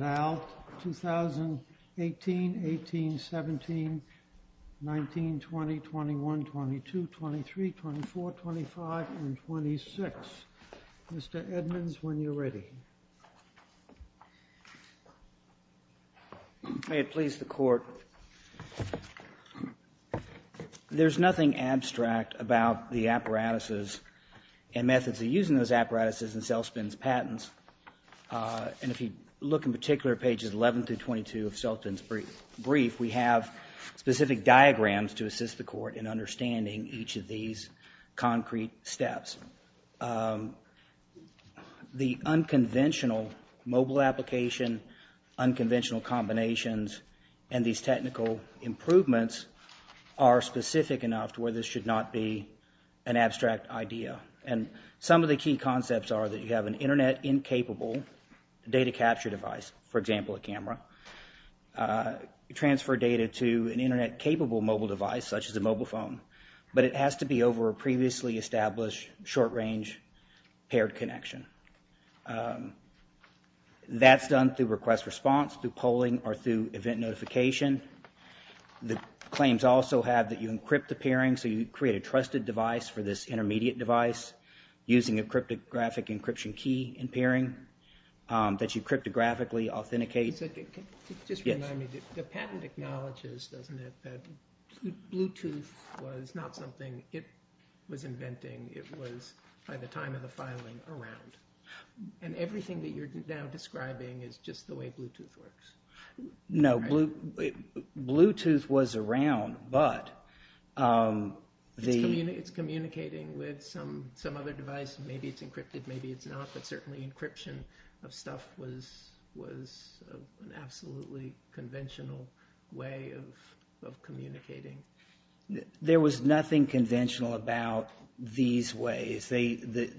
Al, 2018, 18, 17, 19, 20, 21, 22, 23, 24, 25, and 26. Mr. Edmonds, when you're ready. May it please the Court. There's nothing abstract about the apparatuses and methods of using those apparatuses in Selspin's patents. And if you look in particular at pages 11 through 22 of Selspin's brief, we have specific diagrams to assist the Court in understanding each of these concrete steps. The unconventional mobile application, unconventional combinations, and these technical improvements are specific enough to where this should not be an abstract idea. And some of the key concepts are that you have an internet-incapable data capture device, for example, a camera, you transfer data to an internet-capable mobile device, such as a mobile phone. But it has to be over a previously-established short-range paired connection. That's done through request-response, through polling, or through event notification. The claims also have that you encrypt the pairing, so you create a trusted device for this intermediate device using a cryptographic encryption key in pairing that you cryptographically authenticate. Just remind me, the patent acknowledges, doesn't it, that Bluetooth was not something it was inventing. It was, by the time of the filing, around. And everything that you're now describing is just the way Bluetooth works. No. Bluetooth was around, but the- It's communicating with some other device. Maybe it's encrypted, maybe it's not. But certainly, encryption of stuff was an absolutely conventional way of communicating. There was nothing conventional about these ways. There's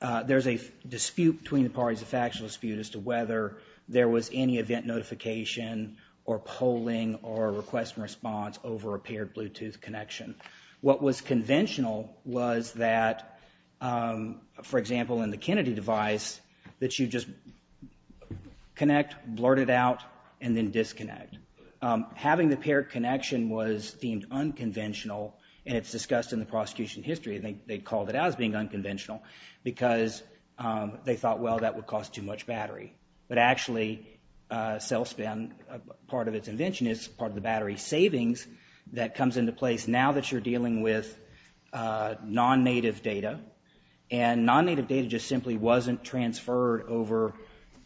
a dispute between the parties, a factual dispute, as to whether there was any event notification, or polling, or request-response over a paired Bluetooth connection. What was conventional was that, for example, in the Kennedy device, that you just connect, blurt it out, and then disconnect. Having the paired connection was deemed unconventional, and it's discussed in the prosecution history, and they called it out as being unconventional because they thought, well, that would cost too much battery. But actually, cell-span, part of its invention is part of the battery savings that comes into place now that you're dealing with non-native data. And non-native data just simply wasn't transferred over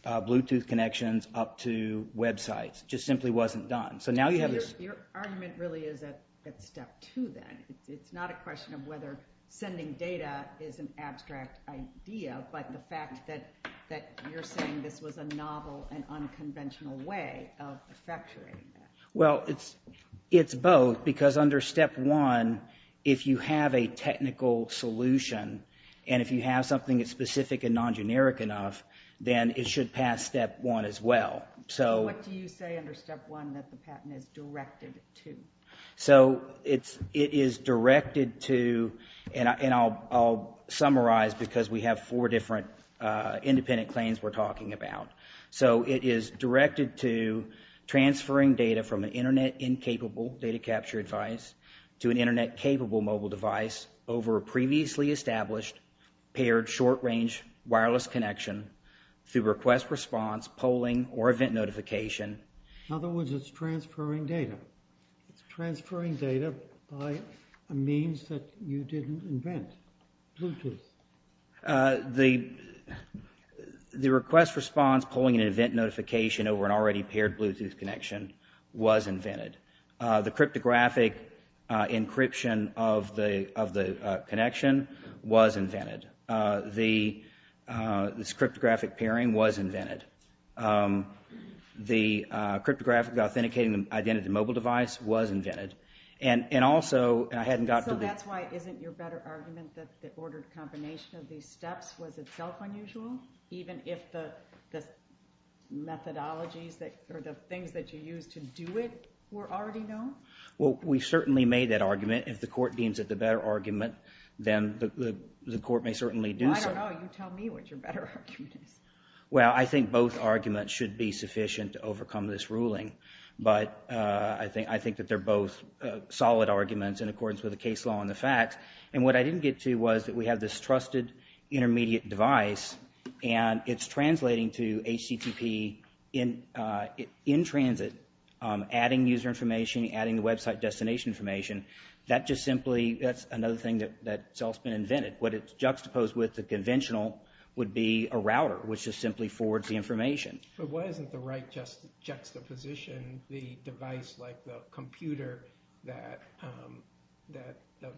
Bluetooth connections up to websites, just simply wasn't done. So now you have this- Your argument really is at step two, then. It's not a question of whether sending data is an abstract idea, but the fact that you're saying this was a novel and unconventional way of effectuating that. Well, it's both, because under step one, if you have a technical solution, and if you have something that's specific and non-generic enough, then it should pass step one as well. So- So what do you say under step one that the patent is directed to? So it is directed to, and I'll summarize because we have four different independent claims we're talking about. So it is directed to transferring data from an internet-incapable data capture device to an internet-capable mobile device over a previously established, paired short-range wireless connection through request-response polling or event notification. In other words, it's transferring data. It's transferring data by a means that you didn't invent, Bluetooth. The request-response polling and event notification over an already paired Bluetooth connection was invented. The cryptographic encryption of the connection was invented. This cryptographic pairing was invented. The cryptographic authenticating identity to mobile device was invented. And also, I hadn't got to the- So that's why, isn't your better argument that the ordered combination of these steps was itself unusual, even if the methodologies or the things that you used to do it were already known? Well, we certainly made that argument. If the court deems it the better argument, then the court may certainly do so. I don't know, you tell me what your better argument is. Well, I think both arguments should be sufficient to overcome this ruling. But I think that they're both solid arguments in accordance with the case law and the facts. And what I didn't get to was that we have this trusted intermediate device, and it's translating to HTTP in transit, adding user information, adding the website destination information. That just simply, that's another thing that itself's been invented. What it's juxtaposed with the conventional would be a router, which just simply forwards the information. But why isn't the right juxtaposition the device like the computer that the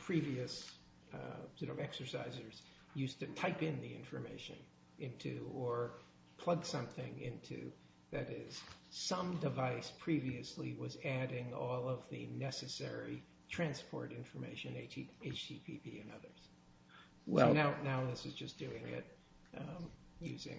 previous sort of exercisers used to type in the information into or plug something into, that is, some device previously was adding all of the necessary transport information, HTTP and others. Well, now this is just doing it using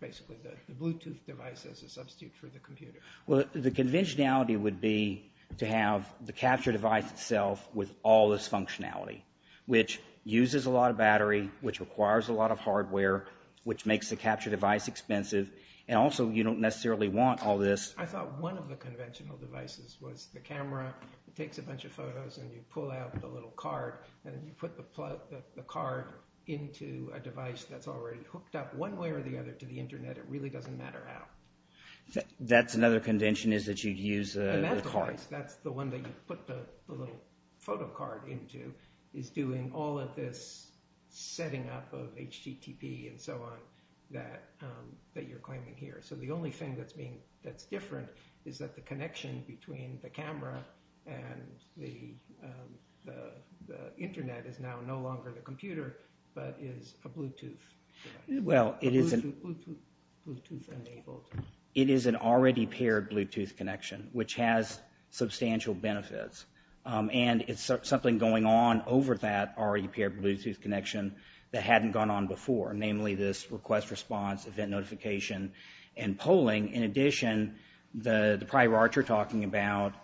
basically the Bluetooth device as a substitute for the computer. Well, the conventionality would be to have the capture device itself with all this functionality, which uses a lot of battery, which requires a lot of hardware, which makes the capture device expensive. And also, you don't necessarily want all this. I thought one of the conventional devices was the camera that takes a bunch of photos and you pull out the little card and then you put the card into a device that's already hooked up one way or the other to the internet. It really doesn't matter how. That's another convention is that you'd use the card. And that device, that's the one that you put the little photo card into, is doing all of this setting up of HTTP and so on that you're claiming here. So the only thing that's different is that the connection between the camera and the internet is now no longer the computer, but is a Bluetooth device. Well, it is a Bluetooth-enabled. It is an already paired Bluetooth connection, which has substantial benefits. And it's something going on over that already paired Bluetooth connection that hadn't gone on before, namely this request response, event notification, and polling. In addition, the prior art you're talking about,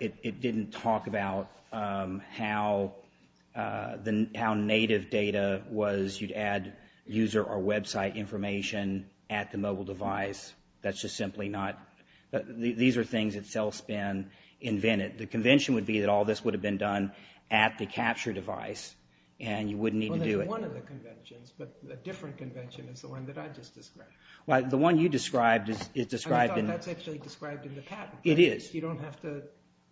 it didn't talk about how native data was, you'd add user or website information at the mobile device. That's just simply not, these are things that Celspin invented. The convention would be that all this would have been done at the capture device, and you wouldn't need to do it. Well, that's one of the conventions, but a different convention is the one that I just described. Well, the one you described is described in- I thought that's actually described in the patent. It is. You don't have to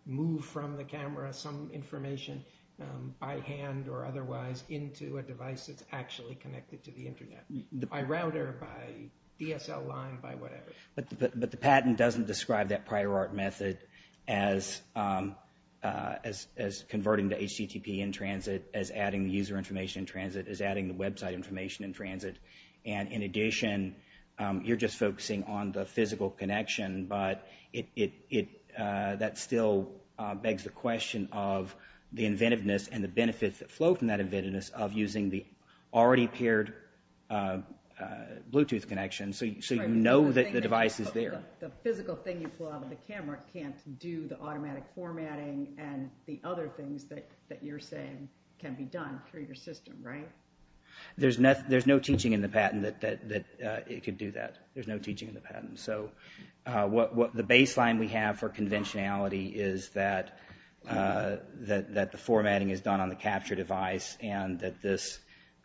move from the camera some information by hand or otherwise into a device that's actually connected to the internet. By router, by DSL line, by whatever. But the patent doesn't describe that prior art method as converting to HTTP in transit, as adding user information in transit, as adding the website information in transit. And in addition, you're just focusing on the physical connection, but that still begs the question of the inventiveness and the benefits that flow from that inventiveness of using the already paired Bluetooth connection so you know that the device is there. The physical thing you pull out of the camera can't do the automatic formatting and the other things that you're saying can be done through your system, right? There's no teaching in the patent that it could do that. There's no teaching in the patent. So the baseline we have for conventionality is that the formatting is done on the capture device and that this,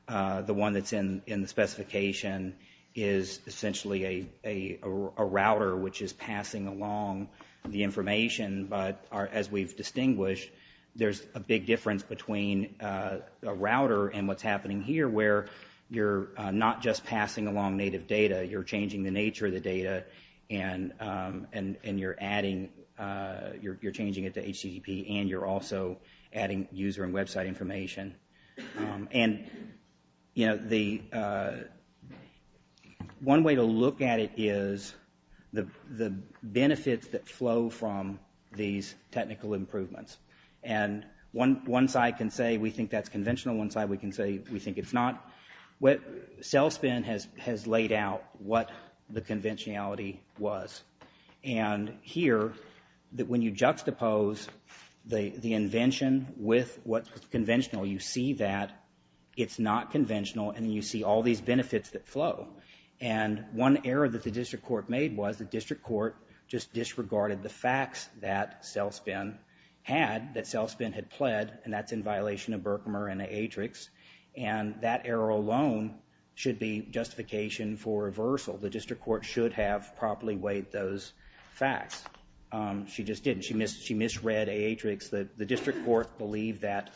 the one that's in the specification is essentially a router which is passing along the information. But as we've distinguished, there's a big difference between a router and what's happening here where you're not just passing along native data, you're changing the nature of the data and you're adding, you're changing it to HTTP and you're also adding user and website information. And, you know, the one way to look at it is the benefits that flow from these technical improvements. And one side can say we think that's conventional, one side we can say we think it's not. What Cellspin has laid out what the conventionality was. And here that when you juxtapose the invention with what's conventional, you see that it's not conventional and you see all these benefits that flow. And one error that the district court made was the district court just disregarded the facts that Cellspin had, that Cellspin had pled and that's in violation of Berkman and the Atrix. And that error alone should be justification for reversal. The district court should have properly weighed those facts, she just didn't, she misread Atrix. The district court believed that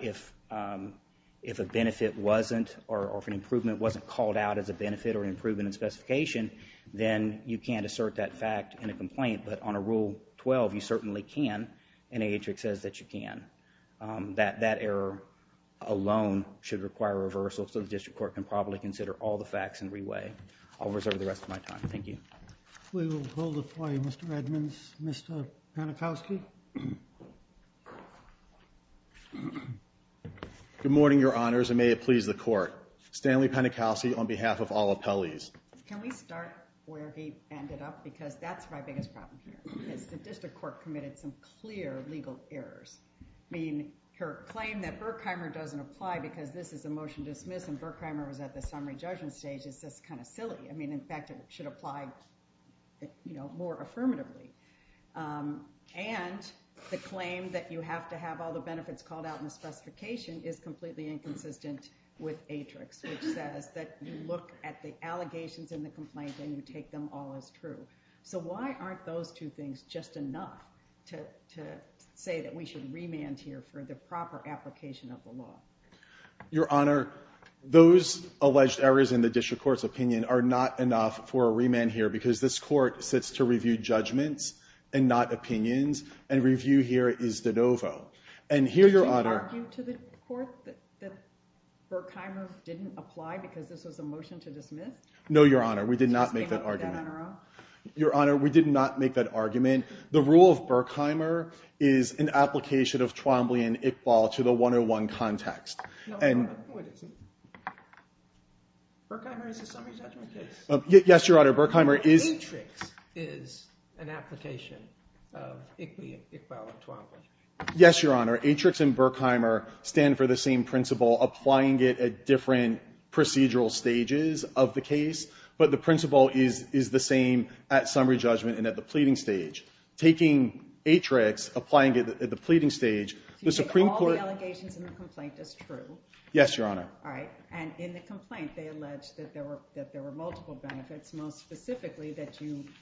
if a benefit wasn't or if an improvement wasn't called out as a benefit or improvement in specification, then you can't assert that fact in a complaint. But on a rule 12, you certainly can and Atrix says that you can. That error alone should require reversal so the district court can probably consider all the facts and re-weigh. I'll reserve the rest of my time, thank you. We will hold it for you, Mr. Edmonds. Mr. Panikowski. Good morning, your honors and may it please the court. Stanley Panikowski on behalf of all appellees. Can we start where he ended up because that's my biggest problem here is the district court committed some clear legal errors. I mean, her claim that Berkheimer doesn't apply because this is a motion dismiss and Berkheimer was at the summary judgment stage is just kind of silly. I mean, in fact, it should apply more affirmatively. And the claim that you have to have all the benefits called out in the specification is completely inconsistent with Atrix which says that you look at the allegations in the complaint and you take them all as true. So why aren't those two things just enough to say that we should remand here for the proper application of the law? Your honor, those alleged errors in the district court's opinion are not enough for a remand here because this court sits to review judgments and not opinions and review here is de novo. And here your honor- Did you argue to the court that Berkheimer didn't apply because this was a motion to dismiss? No, your honor, we did not make that argument. Your honor, we did not make that argument. The rule of Berkheimer is an application of Twombly and Iqbal to the 101 context. Berkheimer is a summary judgment case? Yes, your honor, Berkheimer is- Atrix is an application of Iqbal and Twombly. Yes, your honor, Atrix and Berkheimer stand for the same principle, applying it at different procedural stages of the case, but the principle is the same at summary judgment and at the pleading stage. Taking Atrix, applying it at the pleading stage, the Supreme Court- So you take all the allegations in the complaint as true? Yes, your honor. All right, and in the complaint they allege that there were multiple benefits, most specifically that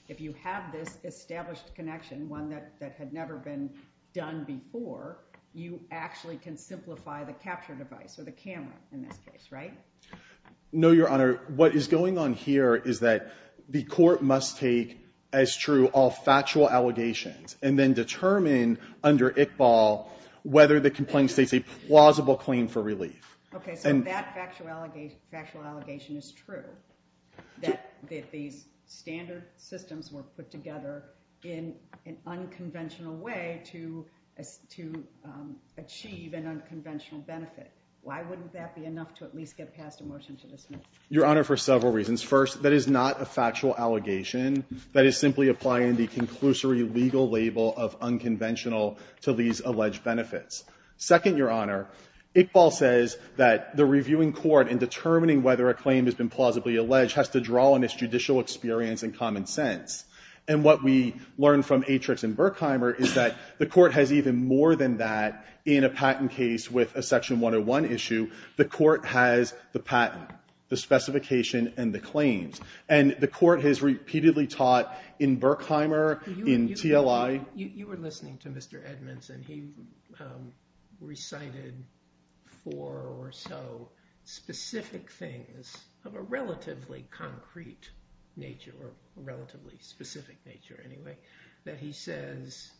if you have this established connection, one that had never been done before, you actually can simplify the capture device or the camera in this case, right? No, your honor, what is going on here is that the court must take as true all factual allegations and then determine under Iqbal whether the complaint states a plausible claim for relief. Okay, so that factual allegation is true, that these standard systems were put together in an unconventional way to achieve an unconventional benefit. Why wouldn't that be enough to at least get passed a motion to dismiss? Your honor, for several reasons. First, that is not a factual allegation. That is simply applying the conclusory legal label of unconventional to these alleged benefits. Second, your honor, Iqbal says that the reviewing court in determining whether a claim has been plausibly alleged has to draw on its judicial experience and common sense. And what we learned from Atrix and Berkheimer is that the court has even more than that in a patent case with a section 101 issue. The court has the patent, the specification, and the claims. And the court has repeatedly taught in Berkheimer, in TLI. You were listening to Mr. Edmonds and he recited four or so specific things of a relatively concrete nature or a relatively specific nature anyway, that he says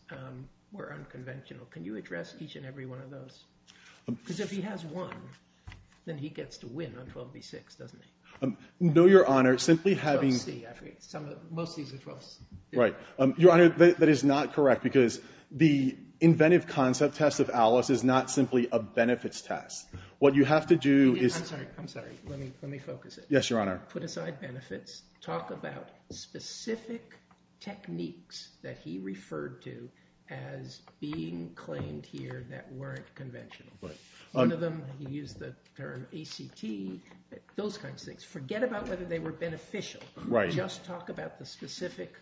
were unconventional. Can you address each and every one of those? Because if he has one, then he gets to win on 12b-6, doesn't he? No, your honor, simply having- 12c, I forget, most of these are 12c. Right, your honor, that is not correct because the inventive concept test of Alice is not simply a benefits test. What you have to do is- I'm sorry, I'm sorry, let me focus it. Yes, your honor. Put aside benefits, talk about specific techniques that he referred to as being claimed here that weren't conventional. One of them, he used the term ACT, those kinds of things. Forget about whether they were beneficial. Just talk about the specific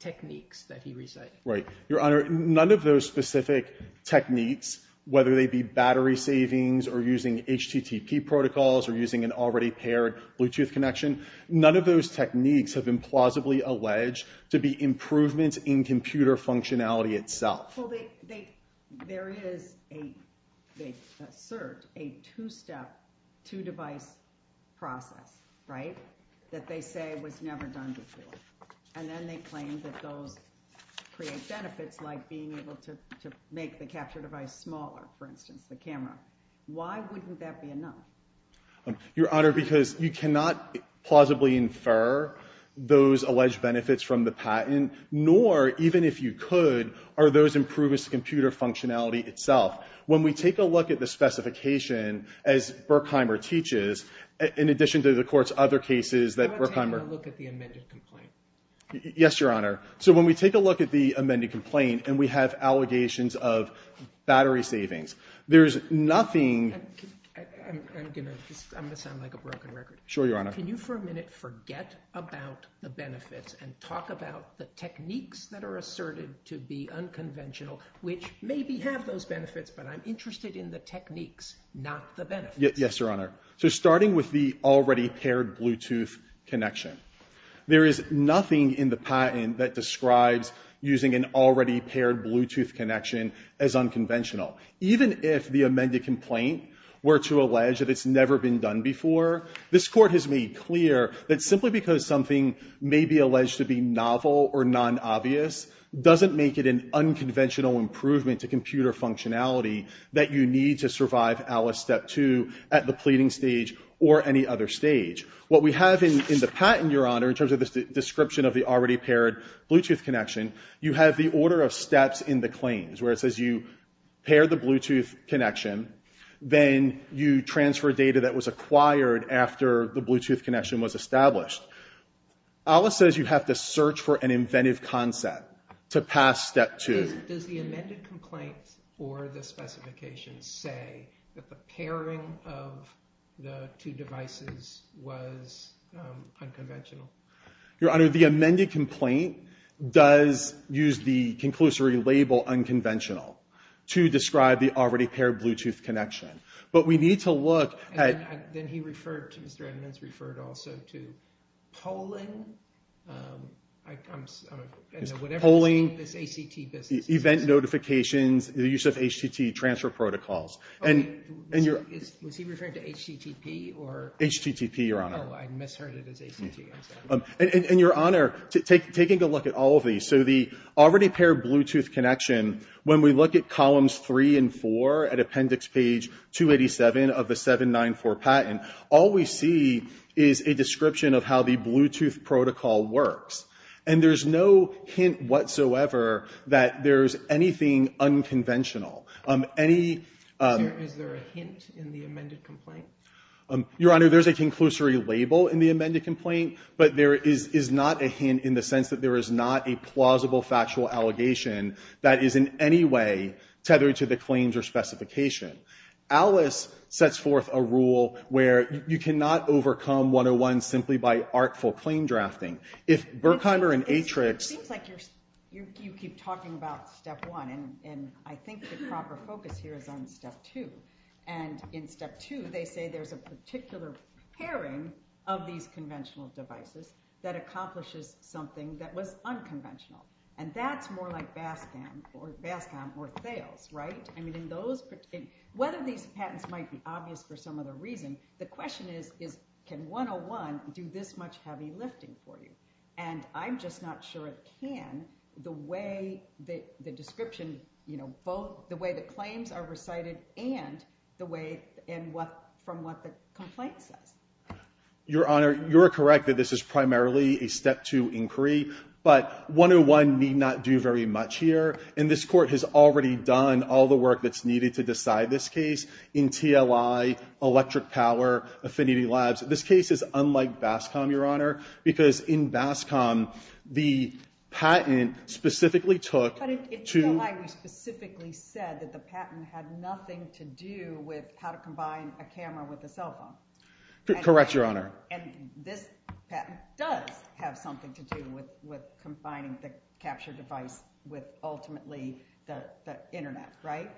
techniques that he recited. Right, your honor, none of those specific techniques, whether they be battery savings or using HTTP protocols or using an already paired Bluetooth connection, none of those techniques have been plausibly alleged to be improvements in computer functionality itself. Well, there is a CERT, a two-step, two-device process, right, that they say was never done before. And then they claim that those create benefits like being able to make the capture device smaller, for instance, the camera. Why wouldn't that be enough? Your honor, because you cannot plausibly infer those alleged benefits from the patent, nor, even if you could, are those improvements to computer functionality itself. When we take a look at the specification, as Berkheimer teaches, in addition to the court's other cases that Berkheimer- I want to take a look at the amended complaint. Yes, your honor. So when we take a look at the amended complaint and we have allegations of battery savings, there's nothing- I'm gonna sound like a broken record. Sure, your honor. Can you, for a minute, forget about the benefits and talk about the techniques that are asserted to be unconventional, which maybe have those benefits, but I'm interested in the techniques, not the benefits. Yes, your honor. So starting with the already paired Bluetooth connection, there is nothing in the patent that describes using an already paired Bluetooth connection as unconventional. Even if the amended complaint were to allege that it's never been done before, this court has made clear that simply because something may be alleged to be novel or non-obvious doesn't make it an unconventional improvement to computer functionality that you need to survive Alice Step 2 at the pleading stage or any other stage. What we have in the patent, your honor, in terms of the description of the already paired Bluetooth connection, you have the order of steps in the claims where it says you pair the Bluetooth connection, then you transfer data that was acquired after the Bluetooth connection was established. Alice says you have to search for an inventive concept to pass Step 2. Does the amended complaint or the specifications say that the pairing of the two devices was unconventional? Your honor, the amended complaint does use the conclusory label unconventional to describe the already paired Bluetooth connection. But we need to look at- Then he referred to, Mr. Edmunds referred also to polling. I'm, I don't know, whatever this ACT business is. Event notifications, the use of HTT transfer protocols. And your- Was he referring to HTTP or- HTTP, your honor. Oh, I misheard it as HTTP. And your honor, taking a look at all of these, so the already paired Bluetooth connection, when we look at columns three and four at appendix page 287 of the 794 patent, all we see is a description of how the Bluetooth protocol works. And there's no hint whatsoever that there's anything unconventional. Any- Is there a hint in the amended complaint? Your honor, there's a conclusory label in the amended complaint, but there is not a hint in the sense that there is not a plausible factual allegation that is in any way tethered to the claims or specification. Alice sets forth a rule where you cannot overcome 101 simply by artful claim drafting. If Burkheimer and Atrix- It seems like you keep talking about step one, and I think the proper focus here is on step two. And in step two, they say there's a particular pairing of these conventional devices that accomplishes something that was unconventional. And that's more like BASCAM, or BASCAM or Thales, right? I mean, in those, whether these patents might be obvious for some other reason, the question is, can 101 do this much heavy lifting for you? And I'm just not sure it can, the way that the description, both the way the claims are recited and from what the complaint says. Your honor, you're correct that this is primarily a step two inquiry, but 101 need not do very much here. And this court has already done all the work that's needed to decide this case in TLI, electric power, Affinity Labs. This case is unlike BASCAM, your honor, because in BASCAM, the patent specifically took- But in TLI, we specifically said that the patent had nothing to do with how to combine a camera with a cell phone. Correct, your honor. And this patent does have something to do with combining the capture device with ultimately the internet, right?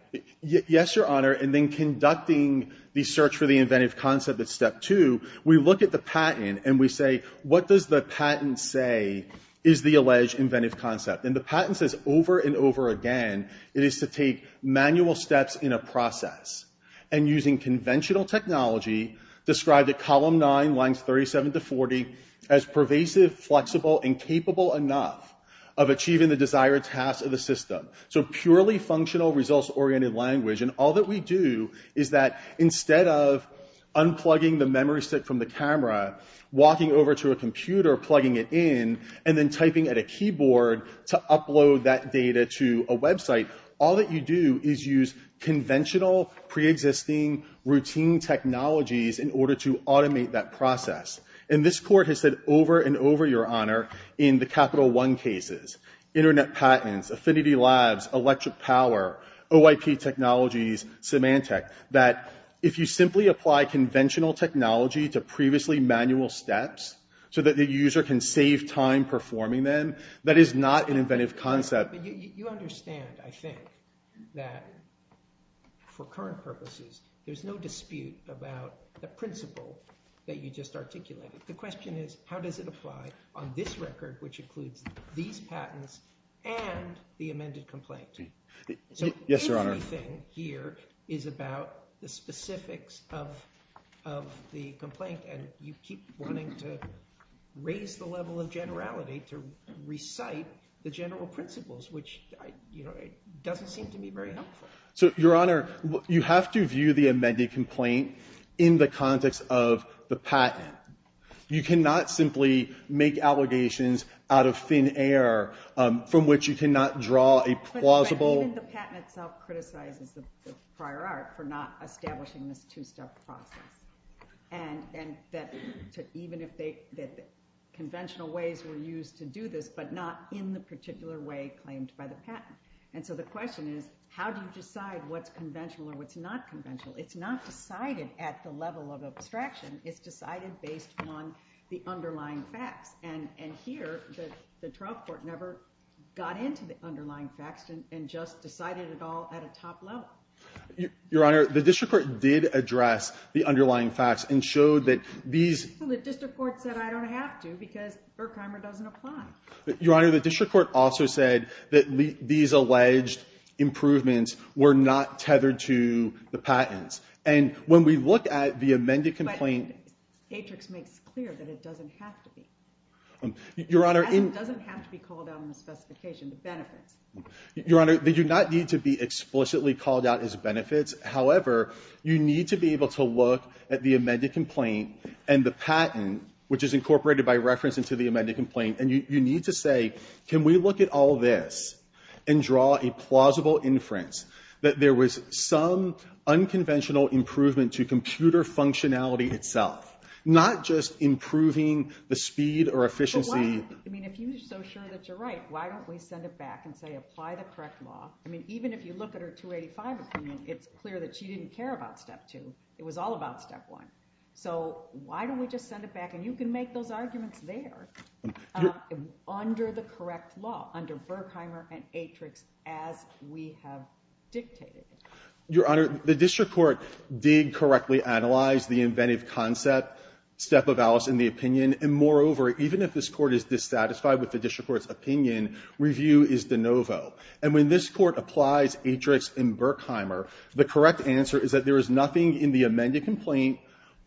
Yes, your honor. And then conducting the search for the inventive concept at step two, we look at the patent and we say, what does the patent say is the alleged inventive concept? And the patent says over and over again, it is to take manual steps in a process and using conventional technology, described at column nine, lines 37 to 40, as pervasive, flexible, and capable enough of achieving the desired tasks of the system. So purely functional results-oriented language, and all that we do is that instead of unplugging the memory stick from the camera, walking over to a computer, plugging it in, and then typing at a keyboard to upload that data to a website, all that you do is use conventional, preexisting, routine technologies in order to automate that process. And this court has said over and over, your honor, in the Capital One cases, internet patents, Affinity Labs, electric power, OIP technologies, Symantec, that if you simply apply conventional technology to previously manual steps, so that the user can save time performing them, that is not an inventive concept. You understand, I think, that for current purposes, there's no dispute about the principle that you just articulated. The question is, how does it apply on this record, which includes these patents and the amended complaint? So everything here is about the specifics of the complaint, and you keep wanting to raise the level of generality to recite the general principles, which doesn't seem to be very helpful. So, your honor, you have to view the amended complaint in the context of the patent. You cannot simply make allegations out of thin air, from which you cannot draw a plausible. But even the patent itself criticizes the prior art for not establishing this two-step process. And that even if conventional ways were used to do this, but not in the particular way claimed by the patent. And so the question is, how do you decide what's conventional and what's not conventional? It's not decided at the level of abstraction, it's decided based on the underlying facts. And here, the trial court never got into the underlying facts and just decided it all at a top level. Your honor, the district court did address the underlying facts and showed that these- Well, the district court said I don't have to because Berkheimer doesn't apply. Your honor, the district court also said that these alleged improvements were not tethered to the patents. And when we look at the amended complaint- Atrix makes clear that it doesn't have to be. Your honor- It doesn't have to be called out in the specification, the benefits. Your honor, they do not need to be explicitly called out as benefits. However, you need to be able to look at the amended complaint and the patent, which is incorporated by reference into the amended complaint. And you need to say, can we look at all this and draw a plausible inference that there was some unconventional improvement to computer functionality itself, not just improving the speed or efficiency- But why? I mean, if you're so sure that you're right, why don't we send it back and say, apply the correct law? I mean, even if you look at her 285 opinion, it's clear that she didn't care about step two. It was all about step one. So why don't we just send it back? And you can make those arguments there under the correct law, under Berkheimer and Atrix, as we have dictated. Your honor, the district court did correctly analyze the inventive concept, step of Alice in the opinion. And moreover, even if this court is dissatisfied with the district court's opinion, review is de novo. And when this court applies Atrix and Berkheimer, the correct answer is that there is nothing in the amended complaint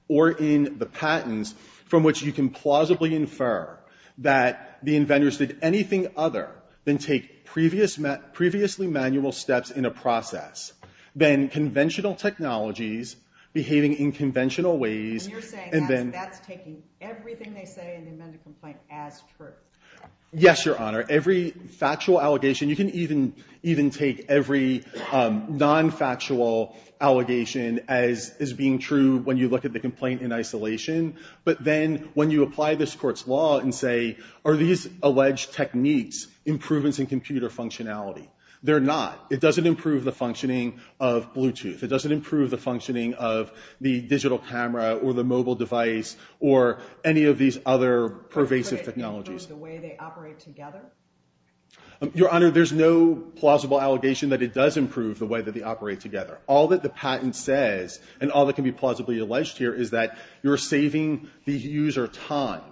or in the patents from which you can plausibly infer that the inventors did anything other than take previously manual steps in a process. Then conventional technologies behaving in conventional ways. And you're saying that's taking everything they say in the amended complaint as truth. Yes, your honor. Every factual allegation, you can even take every non-factual allegation as being true when you look at the complaint in isolation. But then when you apply this court's law and say, are these alleged techniques improvements in computer functionality? They're not. It doesn't improve the functioning of Bluetooth. It doesn't improve the functioning of the digital camera or the mobile device, or any of these other pervasive technologies. Improve the way they operate together? Your honor, there's no plausible allegation that it does improve the way that they operate together. All that the patent says, and all that can be plausibly alleged here is that you're saving the user time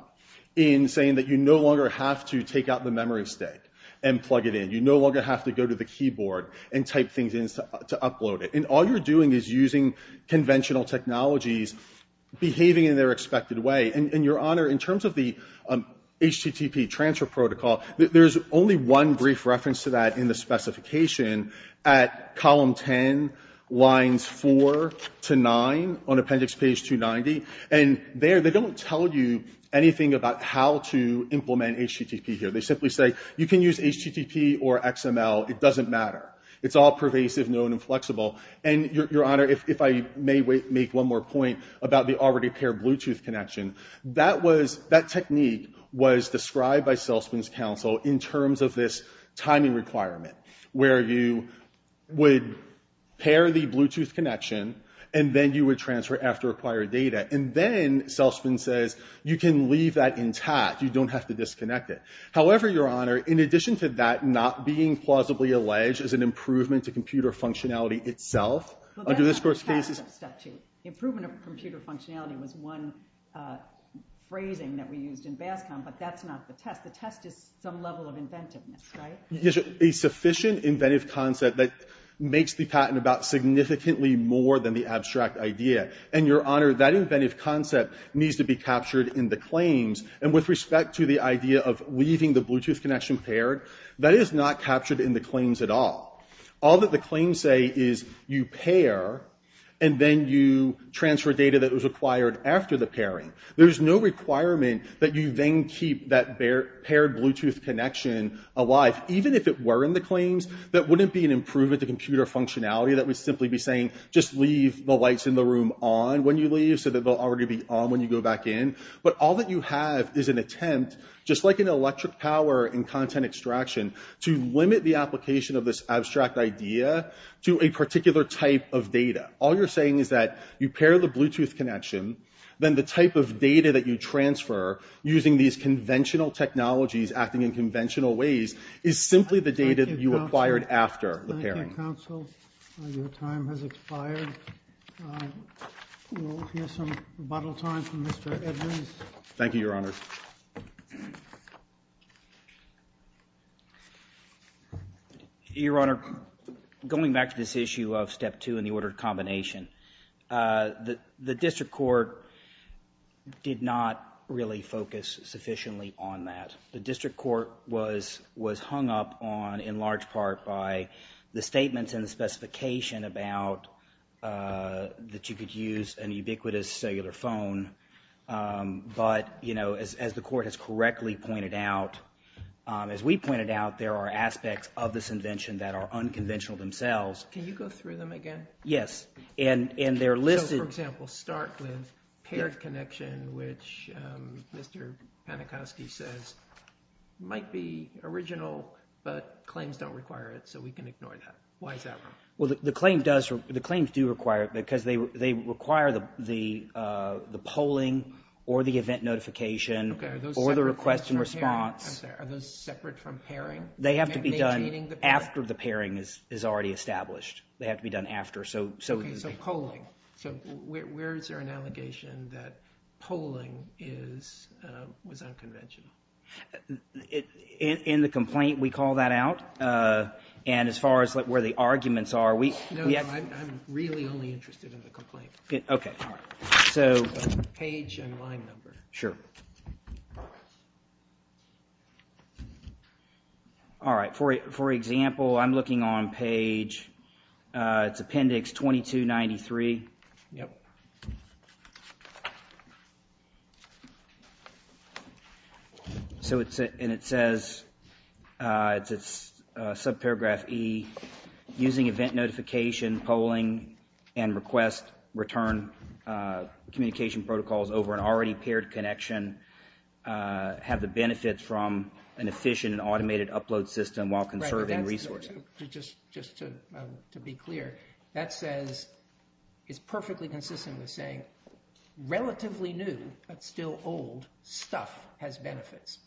in saying that you no longer have to take out the memory stick and plug it in. You no longer have to go to the keyboard and type things in to upload it. And all you're doing is using conventional technologies behaving in their expected way. And your honor, in terms of the HTTP transfer protocol, there's only one brief reference to that in the specification at column 10, lines four to nine on appendix page 290. And there, they don't tell you anything about how to implement HTTP here. They simply say, you can use HTTP or XML. It doesn't matter. It's all pervasive, known, and flexible. And your honor, if I may make one more point about the already paired Bluetooth connection, that technique was described by Salesman's counsel in terms of this timing requirement where you would pair the Bluetooth connection and then you would transfer after acquired data. And then, Salesman says, you can leave that intact. You don't have to disconnect it. However, your honor, in addition to that not being plausibly alleged as an improvement to computer functionality itself, under this court's cases. Improvement of computer functionality was one phrasing that we used in BASCOM, but that's not the test. The test is some level of inventiveness, right? A sufficient inventive concept that makes the patent about significantly more than the abstract idea. And your honor, that inventive concept needs to be captured in the claims. And with respect to the idea of leaving the Bluetooth connection paired, that is not captured in the claims at all. All that the claims say is, you pair, and then you transfer data that was acquired after the pairing. There is no requirement that you then keep that paired Bluetooth connection alive. Even if it were in the claims, that would simply be saying, just leave the lights in the room on when you leave so that they'll already be on when you go back in. But all that you have is an attempt, just like an electric power in content extraction, to limit the application of this abstract idea to a particular type of data. All you're saying is that you pair the Bluetooth connection, then the type of data that you transfer using these conventional technologies acting in conventional ways is simply the data you acquired after the pairing. Thank you, counsel. Your time has expired. We'll hear some rebuttal time from Mr. Edwards. Thank you, Your Honor. Your Honor, going back to this issue of step two and the ordered combination, the district court did not really focus sufficiently on that. The district court was hung up on, in large part, by the statements and the specification about that you could use an ubiquitous cellular phone. But as the court has correctly pointed out, as we pointed out, there are aspects of this invention that are unconventional themselves. Can you go through them again? Yes. And they're listed. So, for example, start with paired connection, which Mr. Panakoski says might be original, but claims don't require it. So we can ignore that. Why is that wrong? Well, the claims do require it because they require the polling or the event notification or the request and response. Are those separate from pairing? They have to be done after the pairing is already established. They have to be done after. OK, so polling. So where is there an allegation that polling was unconventional? In the complaint, we call that out. And as far as where the arguments are, we- No, no, I'm really only interested in the complaint. OK, all right. So- Page and line number. Sure. All right, for example, I'm looking on page, it's appendix 2293. Yep. And it says, it's subparagraph E, using event notification, polling, and request return communication protocols over an already paired connection have the benefits from an efficient and automated upload system while conserving resources. Just to be clear, that says, it's perfectly consistent with saying relatively new, but still old stuff has benefits.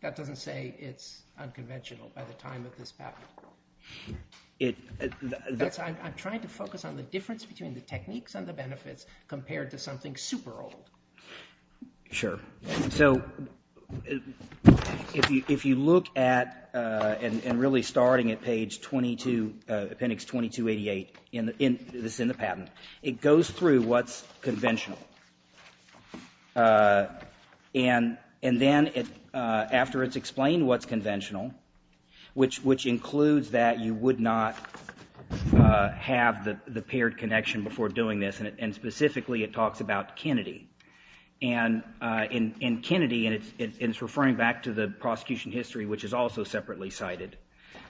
That doesn't say it's unconventional by the time of this patent. That's why I'm trying to focus on the difference between the techniques and the benefits compared to something super old. Sure. So if you look at, and really starting at page 22, appendix 2288, this is in the patent, it goes through what's conventional. And then after it's explained what's conventional, which includes that you would not have the paired connection before doing this, and specifically it talks about Kennedy. And in Kennedy, and it's referring back to the prosecution history, which is also separately cited.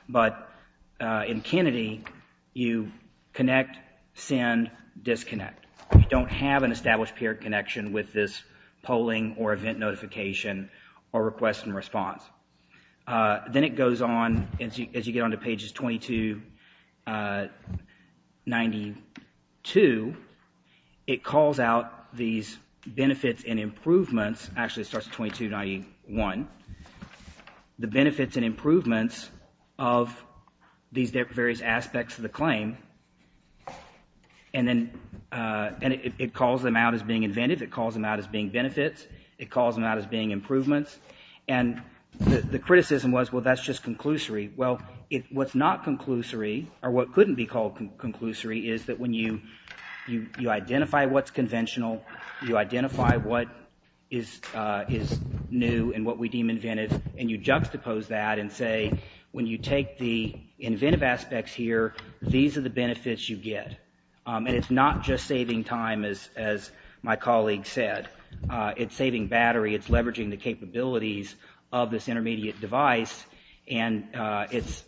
But in Kennedy, you connect, send, disconnect. You don't have an established paired connection with this polling or event notification or request and response. Then it goes on, as you get on to pages 2292, it calls out these benefits and improvements. Actually, it starts at 2291. The benefits and improvements of these various aspects of the claim. And then it calls them out as being inventive. It calls them out as being benefits. It calls them out as being improvements. And the criticism was, well, that's just conclusory. Well, what's not conclusory, or what couldn't be called conclusory, is that when you identify what's conventional, you identify what is new and what we deem inventive, and you juxtapose that and say, when you take the inventive aspects here, these are the benefits you get. And it's not just saving time, as my colleague said. It's saving battery. It's leveraging the capabilities of this intermediate device. And it's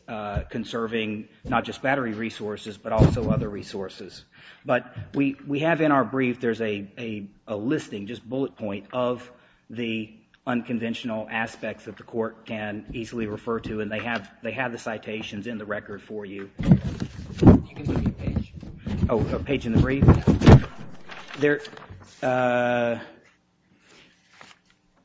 conserving not just battery resources, but also other resources. But we have in our brief, there's a listing, just bullet point, of the unconventional aspects that the court can easily refer to. And they have the citations in the record for you. You can give me a page. Oh, a page in the brief?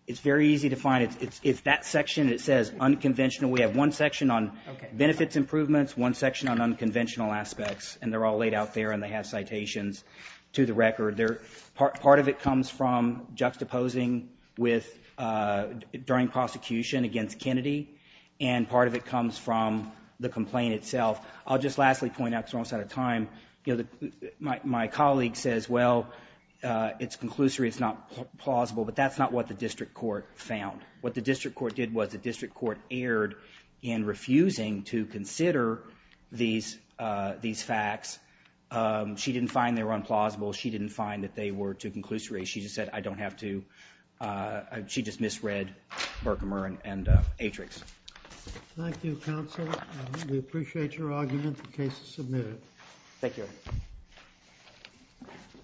It's very easy to find. It's that section. It says unconventional. We have one section on benefits improvements, one section on unconventional aspects. And they're all laid out there. And they have citations to the record. Part of it comes from juxtaposing during prosecution against Kennedy. And part of it comes from the complaint itself. I'll just lastly point out, because we're almost out of time, my colleague says, well, it's conclusory. It's not plausible. But that's not what the district court found. What the district court did was the district court erred in refusing to consider these facts. She didn't find they were unplausible. She didn't find that they were too conclusory. She just said, I don't have to. She just misread Berkemer and Atrix. Thank you, counsel. We appreciate your argument. The case is submitted. Thank you.